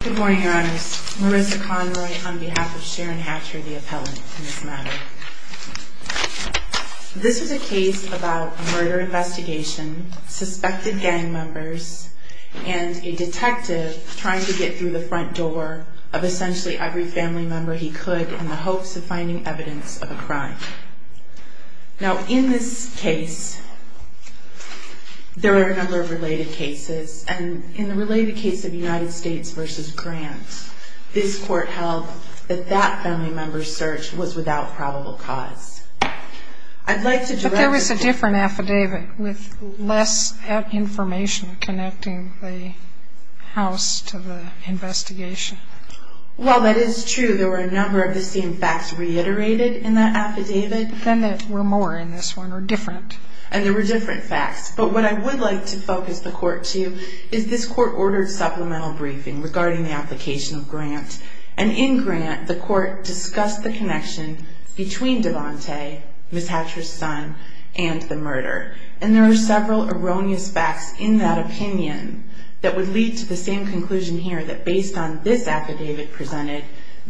Good morning, your honors. Marissa Conroy on behalf of Sharon Hatcher, the appellant in this matter. This is a case about a murder investigation, suspected gang members, and a detective trying to get through the front door of essentially every family member he could in the hopes of finding evidence of a crime. Now in this case, there are a number of related cases, and in the related case of United States v. Grant, this court held that that family member's search was without probable cause. I'd like to direct the jury... But there was a different affidavit with less information connecting the house to the investigation. Well, that is true. There were a number of the same facts reiterated in that affidavit. Then there were more in this one, or different. And there were different facts. But what I would like to focus the court to is this court ordered supplemental briefing regarding the application of Grant. And in Grant, the court discussed the connection between Devante, Ms. Hatcher's son, and the murder. And there are several erroneous facts in that opinion that would lead to the same conclusion here, that based on this affidavit presented,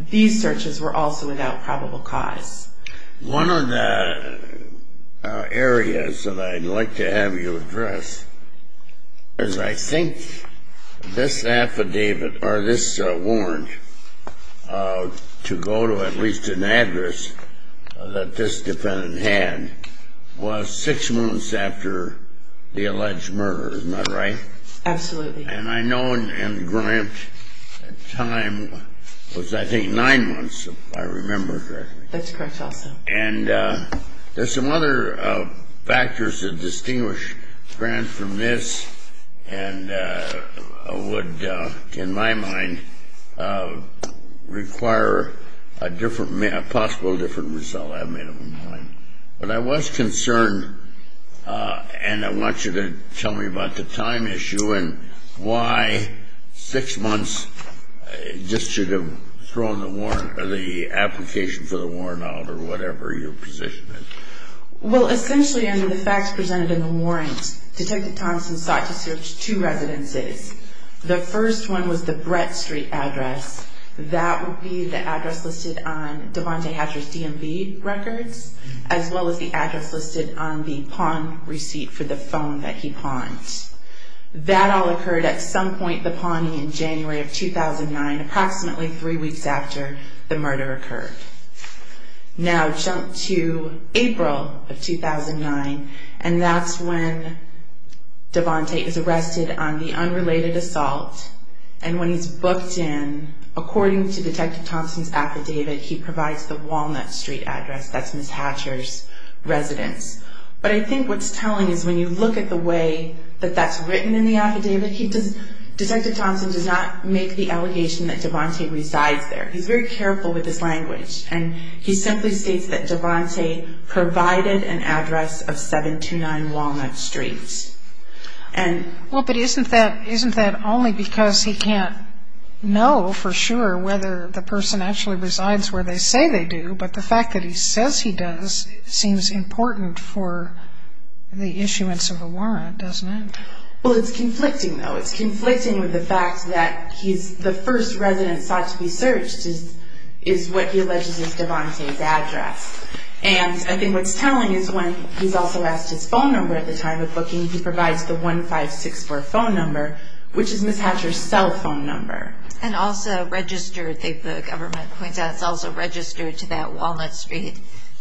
these searches were also without probable cause. One of the areas that I'd like to have you address is I think this affidavit, or this warrant, to go to at least an address that this defendant had, was six months after the alleged murder. Isn't that right? Absolutely. And I know in Grant's time, it was I think nine months, if I remember correctly. That's correct also. And there's some other factors that distinguish Grant from this and would, in my mind, require a different, a possible different result. I haven't made up my mind. But I was concerned, and I want you to tell me about the time issue and why six months just should have thrown the warrant or the application for the warrant out or whatever your position is. Well, essentially, under the facts presented in the warrant, Detective Thompson sought to search two residences. The first one was the Brett Street address. That would be the address listed on Devontae Hatcher's DMV records, as well as the address listed on the pawn receipt for the phone that he pawned. That all occurred at some point, the pawning in January of 2009, approximately three weeks after the murder occurred. Now, jump to April of 2009, and that's when Devontae is arrested on the unrelated assault. And when he's booked in, according to Detective Thompson's affidavit, he provides the Walnut Street address. That's Ms. Hatcher's residence. But I think what's telling is when you look at the way that that's written in the affidavit, Detective Thompson does not make the allegation that Devontae resides there. He's very careful with his language. And he simply states that Devontae provided an address of 729 Walnut Street. Well, but isn't that only because he can't know for sure whether the person actually resides where they say they do, but the fact that he says he does seems important for the issuance of a warrant, doesn't it? Well, it's conflicting, though. It's conflicting with the fact that the first residence sought to be searched is what he alleges is Devontae's address. And I think what's telling is when he's also asked his phone number at the time of booking, he provides the 1564 phone number, which is Ms. Hatcher's cell phone number. And also registered, the government points out, it's also registered to that Walnut Street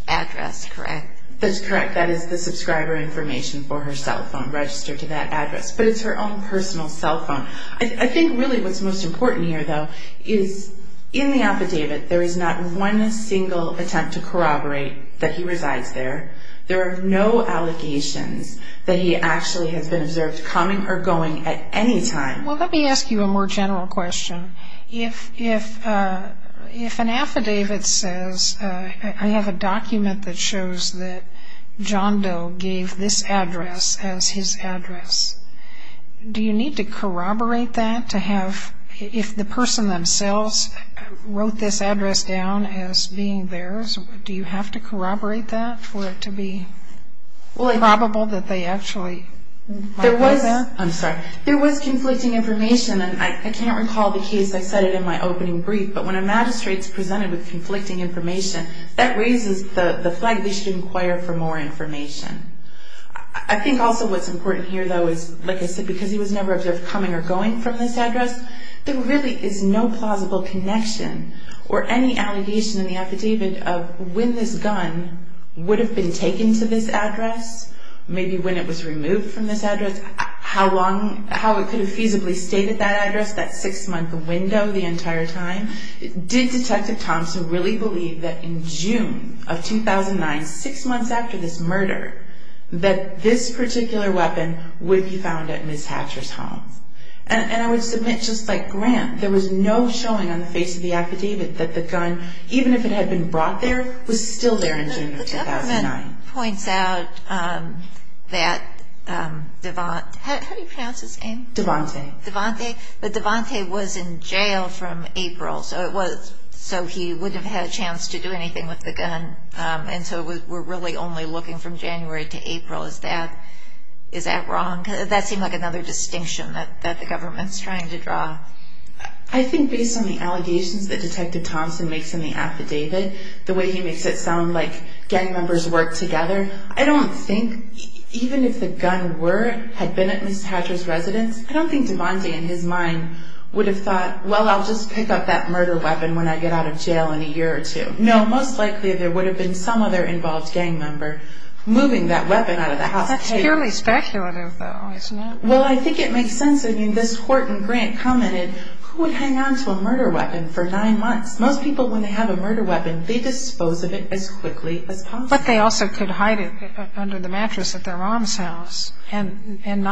address, correct? That's correct. That is the subscriber information for her cell phone, registered to that address. But it's her own personal cell phone. I think really what's most important here, though, is in the affidavit, there is not one single attempt to corroborate that he resides there. There are no allegations that he actually has been observed coming or going at any time. Well, let me ask you a more general question. If an affidavit says, I have a document that shows that John Doe gave this address as his address, do you need to corroborate that to have, if the person themselves wrote this address down as being theirs, do you have to corroborate that for it to be probable that they actually might do that? There was, I'm sorry, there was conflicting information. And I can't recall the case, I said it in my opening brief, but when a magistrate is presented with conflicting information, that raises the flag they should inquire for more information. I think also what's important here, though, is, like I said, because he was never observed coming or going from this address, there really is no plausible connection or any allegation in the affidavit of when this gun would have been taken to this address, maybe when it was removed from this address, how it could have feasibly stayed at that address, that six-month window the entire time. Did Detective Thompson really believe that in June of 2009, six months after this murder, that this particular weapon would be found at Ms. Hatcher's home? And I would submit, just like Grant, there was no showing on the face of the affidavit that the gun, even if it had been brought there, was still there in June of 2009. The government points out that, how do you pronounce his name? Devante. Devante, but Devante was in jail from April, so he wouldn't have had a chance to do anything with the gun, and so we're really only looking from January to April. Is that wrong? That seemed like another distinction that the government's trying to draw. I think based on the allegations that Detective Thompson makes in the affidavit, the way he makes it sound like gang members work together, I don't think, even if the gun had been at Ms. Hatcher's residence, I don't think Devante, in his mind, would have thought, well, I'll just pick up that murder weapon when I get out of jail in a year or two. No, most likely there would have been some other involved gang member moving that weapon out of the house. That's purely speculative, though, isn't it? Well, I think it makes sense. I mean, this Horton Grant commented, who would hang on to a murder weapon for nine months? Most people, when they have a murder weapon, they dispose of it as quickly as possible. But they also could hide it under the mattress at their mom's house and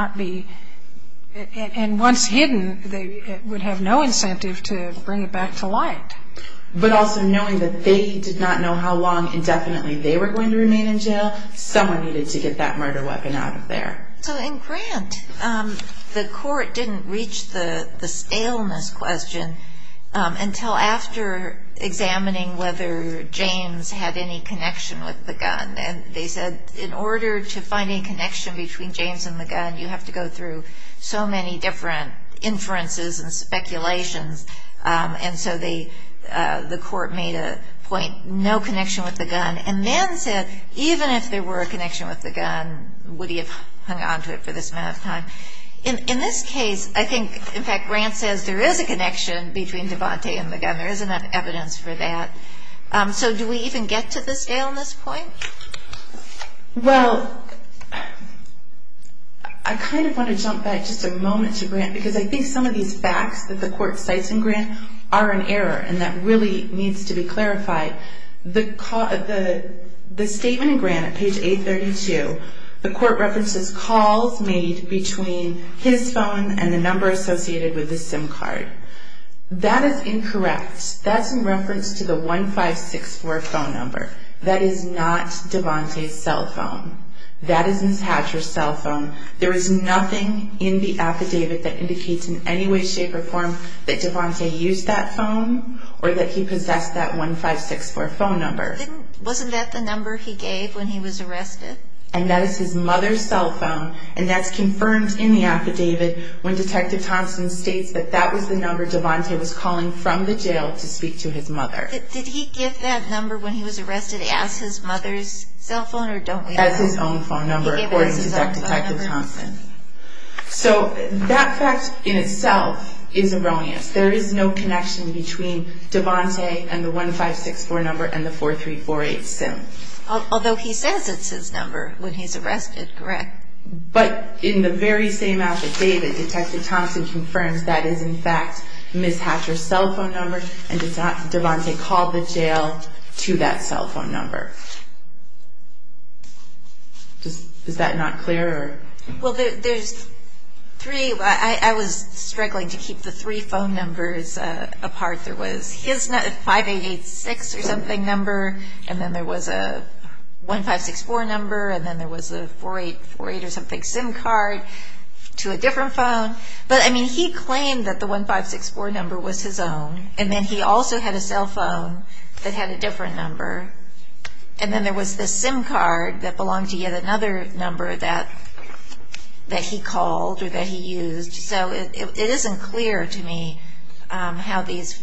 once hidden, they would have no incentive to bring it back to light. But also knowing that they did not know how long indefinitely they were going to remain in jail, someone needed to get that murder weapon out of there. So in Grant, the court didn't reach the staleness question until after examining whether James had any connection with the gun. And they said, in order to find a connection between James and the gun, you have to go through so many different inferences and speculations. And so the court made a point, no connection with the gun, and then said, even if there were a connection with the gun, would he have hung on to it for this amount of time? In this case, I think, in fact, Grant says there is a connection between Devante and the gun. There is enough evidence for that. So do we even get to the staleness point? Well, I kind of want to jump back just a moment to Grant because I think some of these facts that the court cites in Grant are in error and that really needs to be clarified. The statement in Grant at page 832, the court references calls made between his phone and the number associated with the SIM card. That is incorrect. That's in reference to the 1564 phone number. That is not Devante's cell phone. That is Ms. Hatcher's cell phone. There is nothing in the affidavit that indicates in any way, shape, or form that Devante used that phone or that he possessed that 1564 phone number. Wasn't that the number he gave when he was arrested? And that is his mother's cell phone, and that's confirmed in the affidavit when Detective Thompson states that that was the number Devante was calling from the jail to speak to his mother. Did he give that number when he was arrested as his mother's cell phone or don't we know? As his own phone number, according to Detective Thompson. So that fact in itself is erroneous. There is no connection between Devante and the 1564 number and the 4348 SIM. Although he says it's his number when he's arrested, correct? But in the very same affidavit, Detective Thompson confirms that is in fact Ms. Hatcher's cell phone number and Devante called the jail to that cell phone number. Is that not clear? Well, I was struggling to keep the three phone numbers apart. There was his 5886 or something number, and then there was a 1564 number, and then there was a 4848 or something SIM card to a different phone. But he claimed that the 1564 number was his own, and then he also had a cell phone that had a different number. And then there was the SIM card that belonged to yet another number that he called or that he used. So it isn't clear to me how these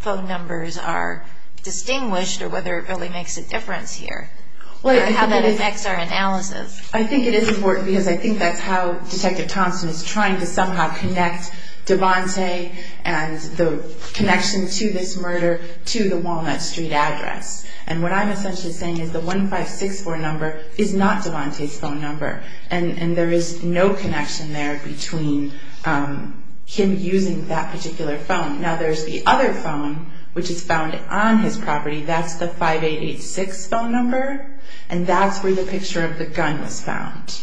phone numbers are distinguished or whether it really makes a difference here or how that affects our analysis. I think it is important because I think that's how Detective Thompson is trying to somehow connect Devante and the connection to this murder to the Walnut Street address. And what I'm essentially saying is the 1564 number is not Devante's phone number, and there is no connection there between him using that particular phone. Now, there's the other phone, which is found on his property. That's the 5886 phone number, and that's where the picture of the gun was found.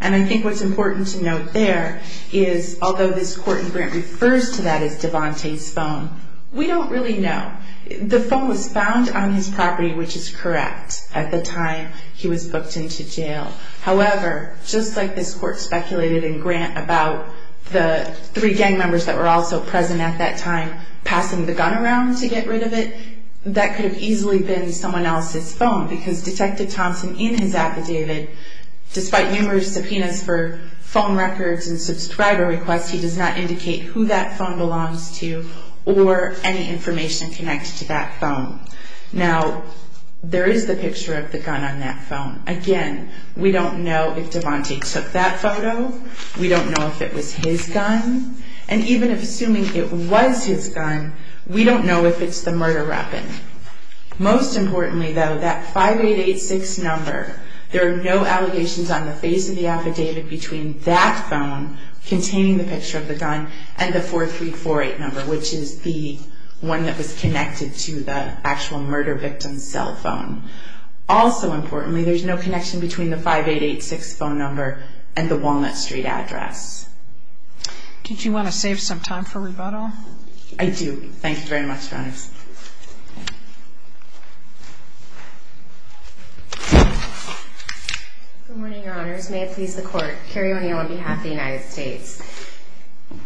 And I think what's important to note there is although this court in Grant refers to that as Devante's phone, we don't really know. The phone was found on his property, which is correct, at the time he was booked into jail. However, just like this court speculated in Grant about the three gang members that were also present at that time passing the gun around to get rid of it, that could have easily been someone else's phone, because Detective Thompson in his affidavit, despite numerous subpoenas for phone records and subscriber requests, he does not indicate who that phone belongs to or any information connected to that phone. Now, there is the picture of the gun on that phone. Again, we don't know if Devante took that photo. We don't know if it was his gun. And even assuming it was his gun, we don't know if it's the murder weapon. Most importantly, though, that 5886 number, there are no allegations on the face of the affidavit between that phone containing the picture of the gun and the 4348 number, which is the one that was connected to the actual murder victim's cell phone. Also importantly, there's no connection between the 5886 phone number and the Walnut Street address. I do. Thank you very much, Your Honors. Good morning, Your Honors. May it please the Court, Carrie O'Neill on behalf of the United States.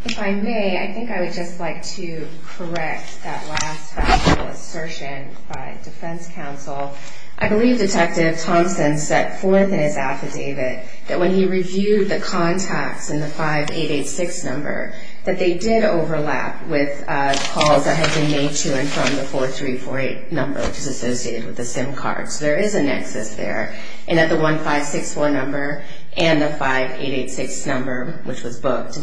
If I may, I think I would just like to correct that last factual assertion by Defense Counsel. I believe Detective Thompson set forth in his affidavit that when he reviewed the contacts and the 5886 number, that they did overlap with calls that had been made to and from the 4348 number, which is associated with the SIM card. So there is a nexus there in that the 1561 number and the 5886 number, which was booked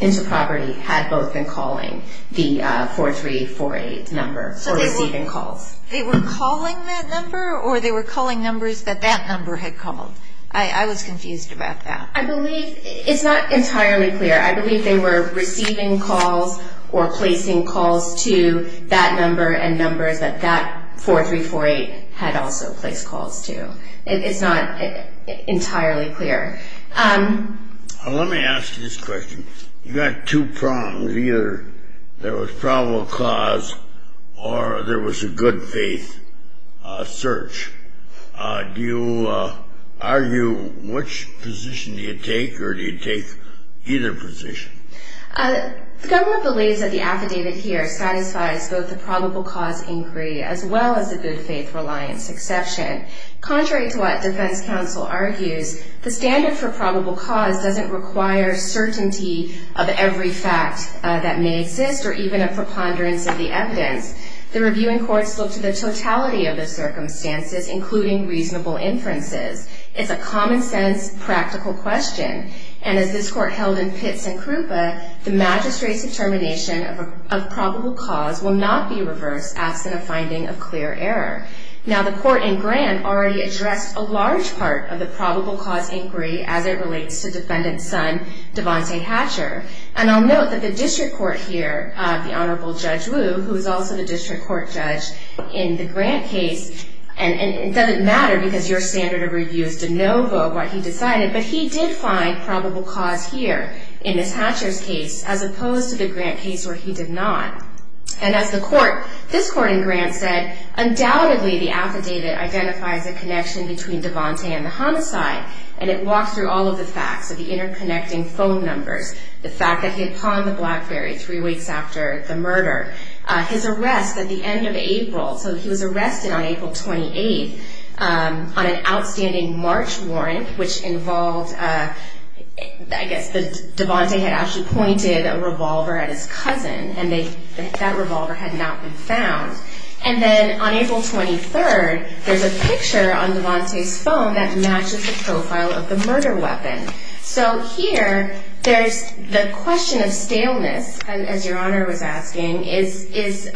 into property, had both been calling the 4348 number or receiving calls. So they were calling that number, or they were calling numbers that that number had called? I was confused about that. I believe it's not entirely clear. I believe they were receiving calls or placing calls to that number and numbers that that 4348 had also placed calls to. It's not entirely clear. Let me ask you this question. You got two prongs. Either there was probable cause or there was a good faith search. Do you argue which position do you take, or do you take either position? The government believes that the affidavit here satisfies both the probable cause inquiry as well as the good faith reliance exception. Contrary to what Defense Counsel argues, the standard for probable cause doesn't require certainty of every fact that may exist or even a preponderance of the evidence. The reviewing courts look to the totality of the circumstances, including reasonable inferences. It's a common-sense, practical question. And as this court held in Pitts and Krupa, the magistrate's determination of probable cause will not be reversed, absent a finding of clear error. Now, the court in Graham already addressed a large part of the probable cause inquiry as it relates to defendant's son, Devante Hatcher. And I'll note that the district court here, the Honorable Judge Wu, who is also the district court judge in the Grant case, and it doesn't matter because your standard of review is de novo what he decided, but he did find probable cause here in Ms. Hatcher's case as opposed to the Grant case where he did not. And as this court in Grant said, undoubtedly the affidavit identifies a connection between Devante and the homicide, and it walks through all of the facts of the interconnecting phone numbers, the fact that he had pawned the Blackberry three weeks after the murder, his arrest at the end of April. So he was arrested on April 28th on an outstanding March warrant, which involved, I guess, that Devante had actually pointed a revolver at his cousin, and that revolver had not been found. And then on April 23rd, there's a picture on Devante's phone that matches the profile of the murder weapon. So here, there's the question of staleness, as Your Honor was asking, is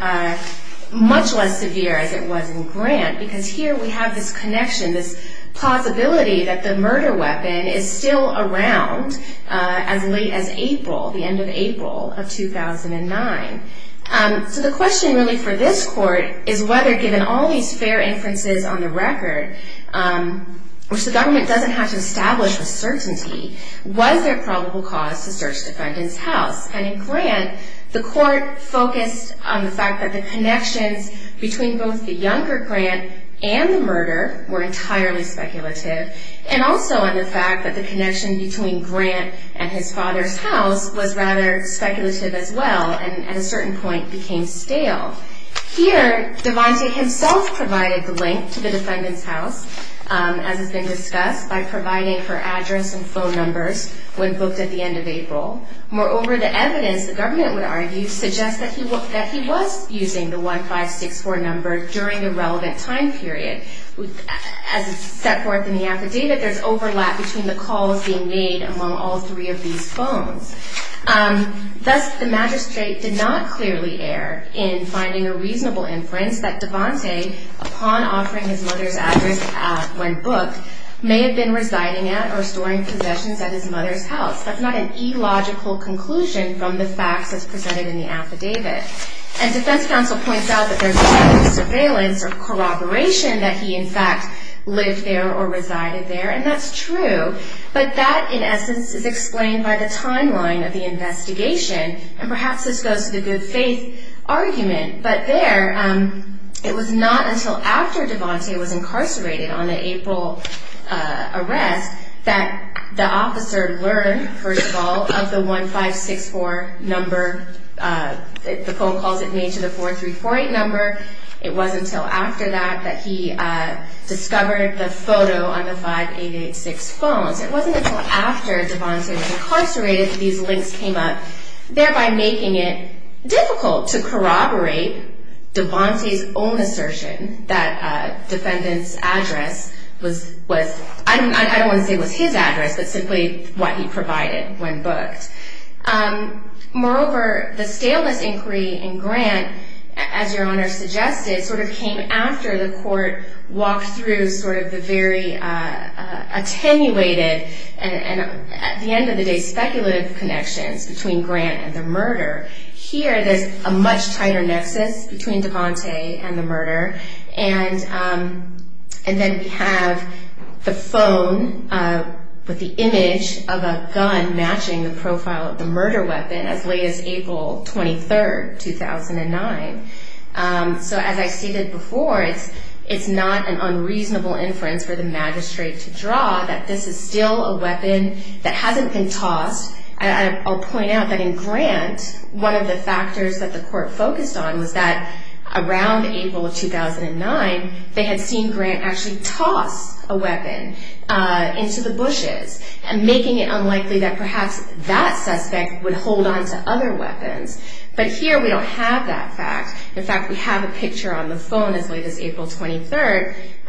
much less severe as it was in Grant, because here we have this connection, this plausibility that the murder weapon is still around as late as April, the end of April of 2009. So the question really for this court is whether, given all these fair inferences on the record, which the government doesn't have to establish with certainty, was there probable cause to search the defendant's house? And in Grant, the court focused on the fact that the connections between both the younger Grant and the murder were entirely speculative, and also on the fact that the connection between Grant and his father's house was rather speculative as well, and at a certain point became stale. Here, Devante himself provided the link to the defendant's house, as has been discussed, by providing her address and phone numbers when booked at the end of April. Moreover, the evidence, the government would argue, suggests that he was using the 1564 number during a relevant time period. As is set forth in the affidavit, there's overlap between the calls being made among all three of these phones. Thus, the magistrate did not clearly err in finding a reasonable inference that Devante, upon offering his mother's address when booked, may have been residing at or storing possessions at his mother's house. That's not an illogical conclusion from the facts as presented in the affidavit. And defense counsel points out that there's a lack of surveillance or corroboration that he, in fact, lived there or resided there, and that's true, but that, in essence, is explained by the timeline of the investigation, and perhaps this goes to the good faith argument. But there, it was not until after Devante was incarcerated on the April arrest that the officer learned, first of all, of the 1564 number, the phone calls it made to the 4348 number. It wasn't until after that that he discovered the photo on the 5886 phones. It wasn't until after Devante was incarcerated that these links came up, thereby making it difficult to corroborate Devante's own assertion that a defendant's address was, I don't want to say was his address, but simply what he provided when booked. Moreover, the staleness inquiry in Grant, as Your Honor suggested, sort of came after the court walked through sort of the very attenuated and, at the end of the day, speculative connections between Grant and the murder. Here, there's a much tighter nexus between Devante and the murder, and then we have the phone with the image of a gun matching the profile of the murder weapon as late as April 23, 2009. So as I stated before, it's not an unreasonable inference for the magistrate to draw that this is still a weapon that hasn't been tossed. I'll point out that in Grant, one of the factors that the court focused on was that around April of 2009, they had seen Grant actually toss a weapon into the bushes, making it unlikely that perhaps that suspect would hold onto other weapons. But here, we don't have that fact. In fact, we have a picture on the phone as late as April 23,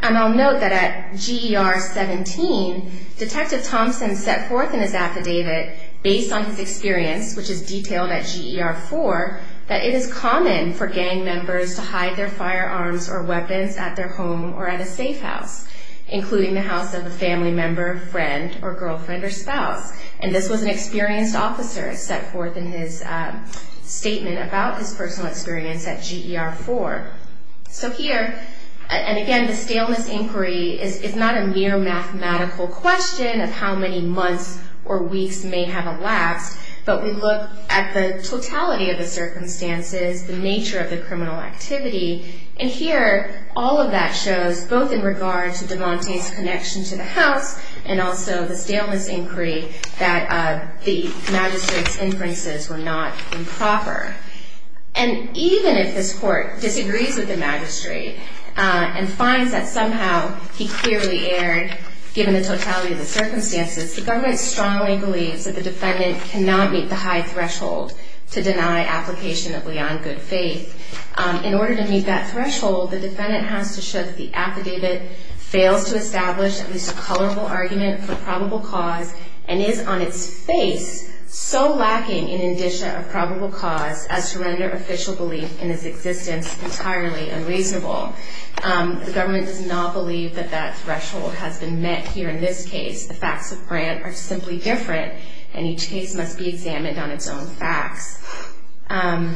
and I'll note that at GER 17, Detective Thompson set forth in his affidavit, based on his experience, which is detailed at GER 4, that it is common for gang members to hide their firearms or weapons at their home or at a safe house, including the house of a family member, friend, or girlfriend or spouse. And this was an experienced officer set forth in his statement about his personal experience at GER 4. So here, and again, the staleness inquiry is not a mere mathematical question of how many months or weeks may have elapsed, but we look at the totality of the circumstances, the nature of the criminal activity. And here, all of that shows, both in regard to DeMonte's connection to the house and also the staleness inquiry, that the magistrate's inferences were not improper. And even if this court disagrees with the magistrate and finds that somehow he clearly erred, given the totality of the circumstances, the government strongly believes that the defendant cannot meet the high threshold to deny application of Leon Good Faith. In order to meet that threshold, the defendant has to shift the affidavit, fails to establish at least a colorable argument for probable cause, and is on its face so lacking in indicia of probable cause as to render official belief in his existence entirely unreasonable. The government does not believe that that threshold has been met here in this case. The facts of Grant are simply different, and each case must be examined on its own facts. The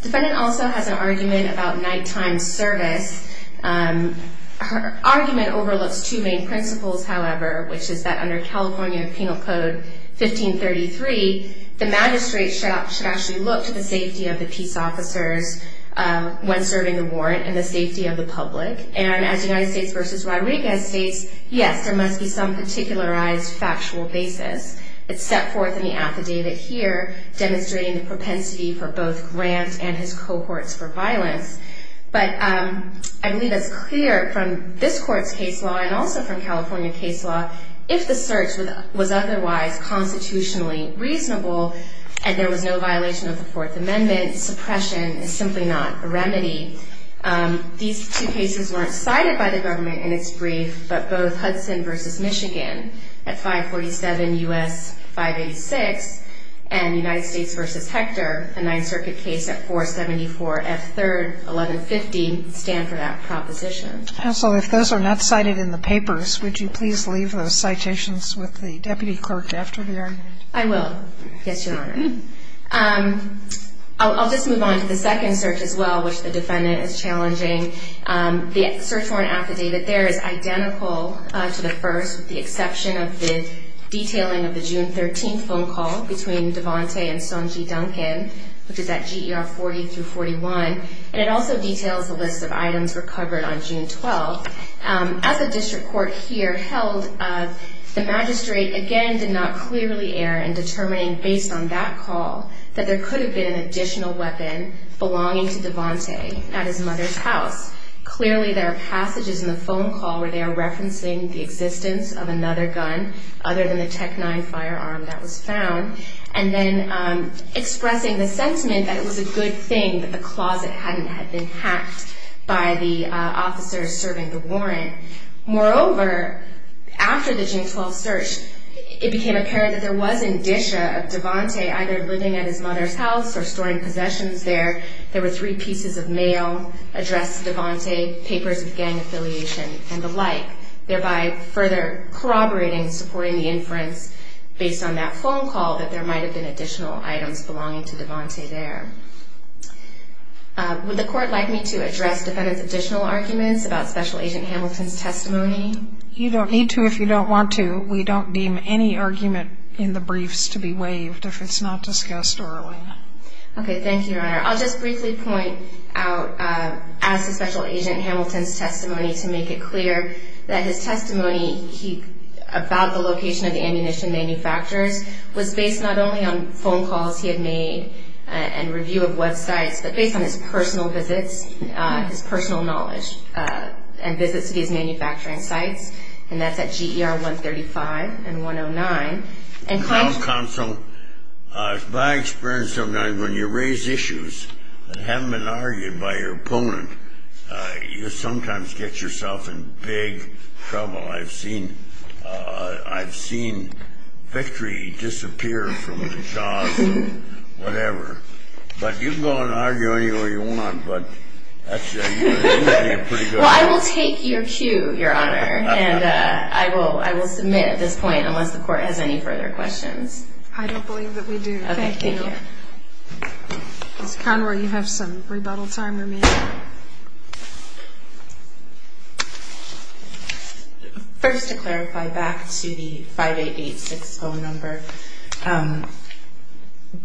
defendant also has an argument about nighttime service. Her argument overlooks two main principles, however, which is that under California Penal Code 1533, the magistrate should actually look to the safety of the peace officers when serving a warrant and the safety of the public. And as United States v. Rodriguez states, yes, there must be some particularized factual basis. It's set forth in the affidavit here, demonstrating the propensity for both Grant and his cohorts for violence. But I believe it's clear from this court's case law and also from California case law, if the search was otherwise constitutionally reasonable and there was no violation of the Fourth Amendment, suppression is simply not a remedy. These two cases weren't cited by the government in its brief, but both Hudson v. Michigan at 547 U.S. 586 and United States v. Hector, a Ninth Circuit case at 474 F. 3rd, 1150, stand for that proposition. Counsel, if those are not cited in the papers, would you please leave those citations with the deputy clerk after the argument? I will. Yes, Your Honor. I'll just move on to the second search as well, which the defendant is challenging. The search warrant affidavit there is identical to the first with the exception of the detailing of the June 13th phone call between Devante and Sonji Duncan, which is at GER 40-41. And it also details the list of items recovered on June 12th. As a district court here held, the magistrate, again, did not clearly err in determining based on that call that there could have been an additional weapon belonging to Devante at his mother's house. Clearly, there are passages in the phone call where they are referencing the existence of another gun other than the Tec-9 firearm that was found, and then expressing the sentiment that it was a good thing that the closet hadn't been hacked by the officers serving the warrant. Moreover, after the June 12th search, it became apparent that there was indicia of Devante either living at his mother's house or storing possessions there. There were three pieces of mail addressed to Devante, papers of gang affiliation, and the like, thereby further corroborating, supporting the inference based on that phone call that there might have been additional items belonging to Devante there. Would the court like me to address Defendant's additional arguments about Special Agent Hamilton's testimony? You don't need to if you don't want to. We don't deem any argument in the briefs to be waived if it's not discussed early. Okay, thank you, Your Honor. I'll just briefly point out, as to Special Agent Hamilton's testimony, to make it clear that his testimony about the location of the ammunition manufacturers was based not only on phone calls he had made and review of websites, but based on his personal visits, his personal knowledge, and visits to these manufacturing sites, and that's at GER 135 and 109. Counsel, by experience, sometimes when you raise issues that haven't been argued by your opponent, you sometimes get yourself in big trouble. I've seen victory disappear from the jaws of whatever, but you can go and argue any way you want, but that's pretty good. Well, I will take your cue, Your Honor, and I will submit at this point unless the court has any further questions. I don't believe that we do. Okay, thank you. Ms. Conroy, you have some rebuttal time remaining. First, to clarify back to the 5886 phone number,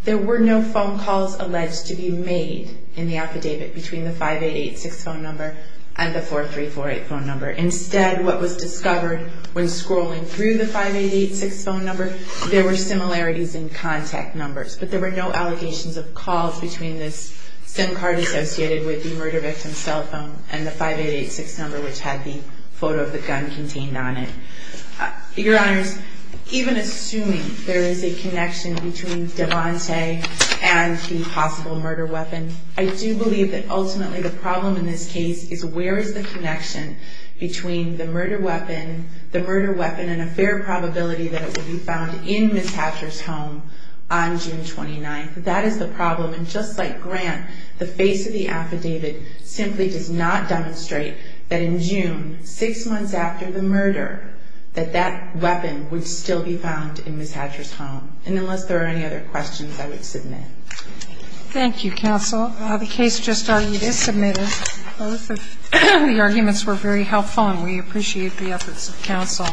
there were no phone calls alleged to be made in the affidavit between the 5886 phone number and the 4348 phone number. Instead, what was discovered when scrolling through the 5886 phone number, there were similarities in contact numbers, but there were no allegations of calls between this SIM card associated with the murder victim's cell phone and the 5886 number, which had the photo of the gun contained on it. Your Honors, even assuming there is a connection between Devante and the possible murder weapon, I do believe that ultimately the problem in this case is where is the connection between the murder weapon, and a fair probability that it would be found in Ms. Hatcher's home on June 29th. That is the problem. And just like Grant, the face of the affidavit simply does not demonstrate that in June, six months after the murder, that that weapon would still be found in Ms. Hatcher's home. And unless there are any other questions, I would submit. Thank you, counsel. The case just argued is submitted. Both of the arguments were very helpful, and we appreciate the efforts of counsel.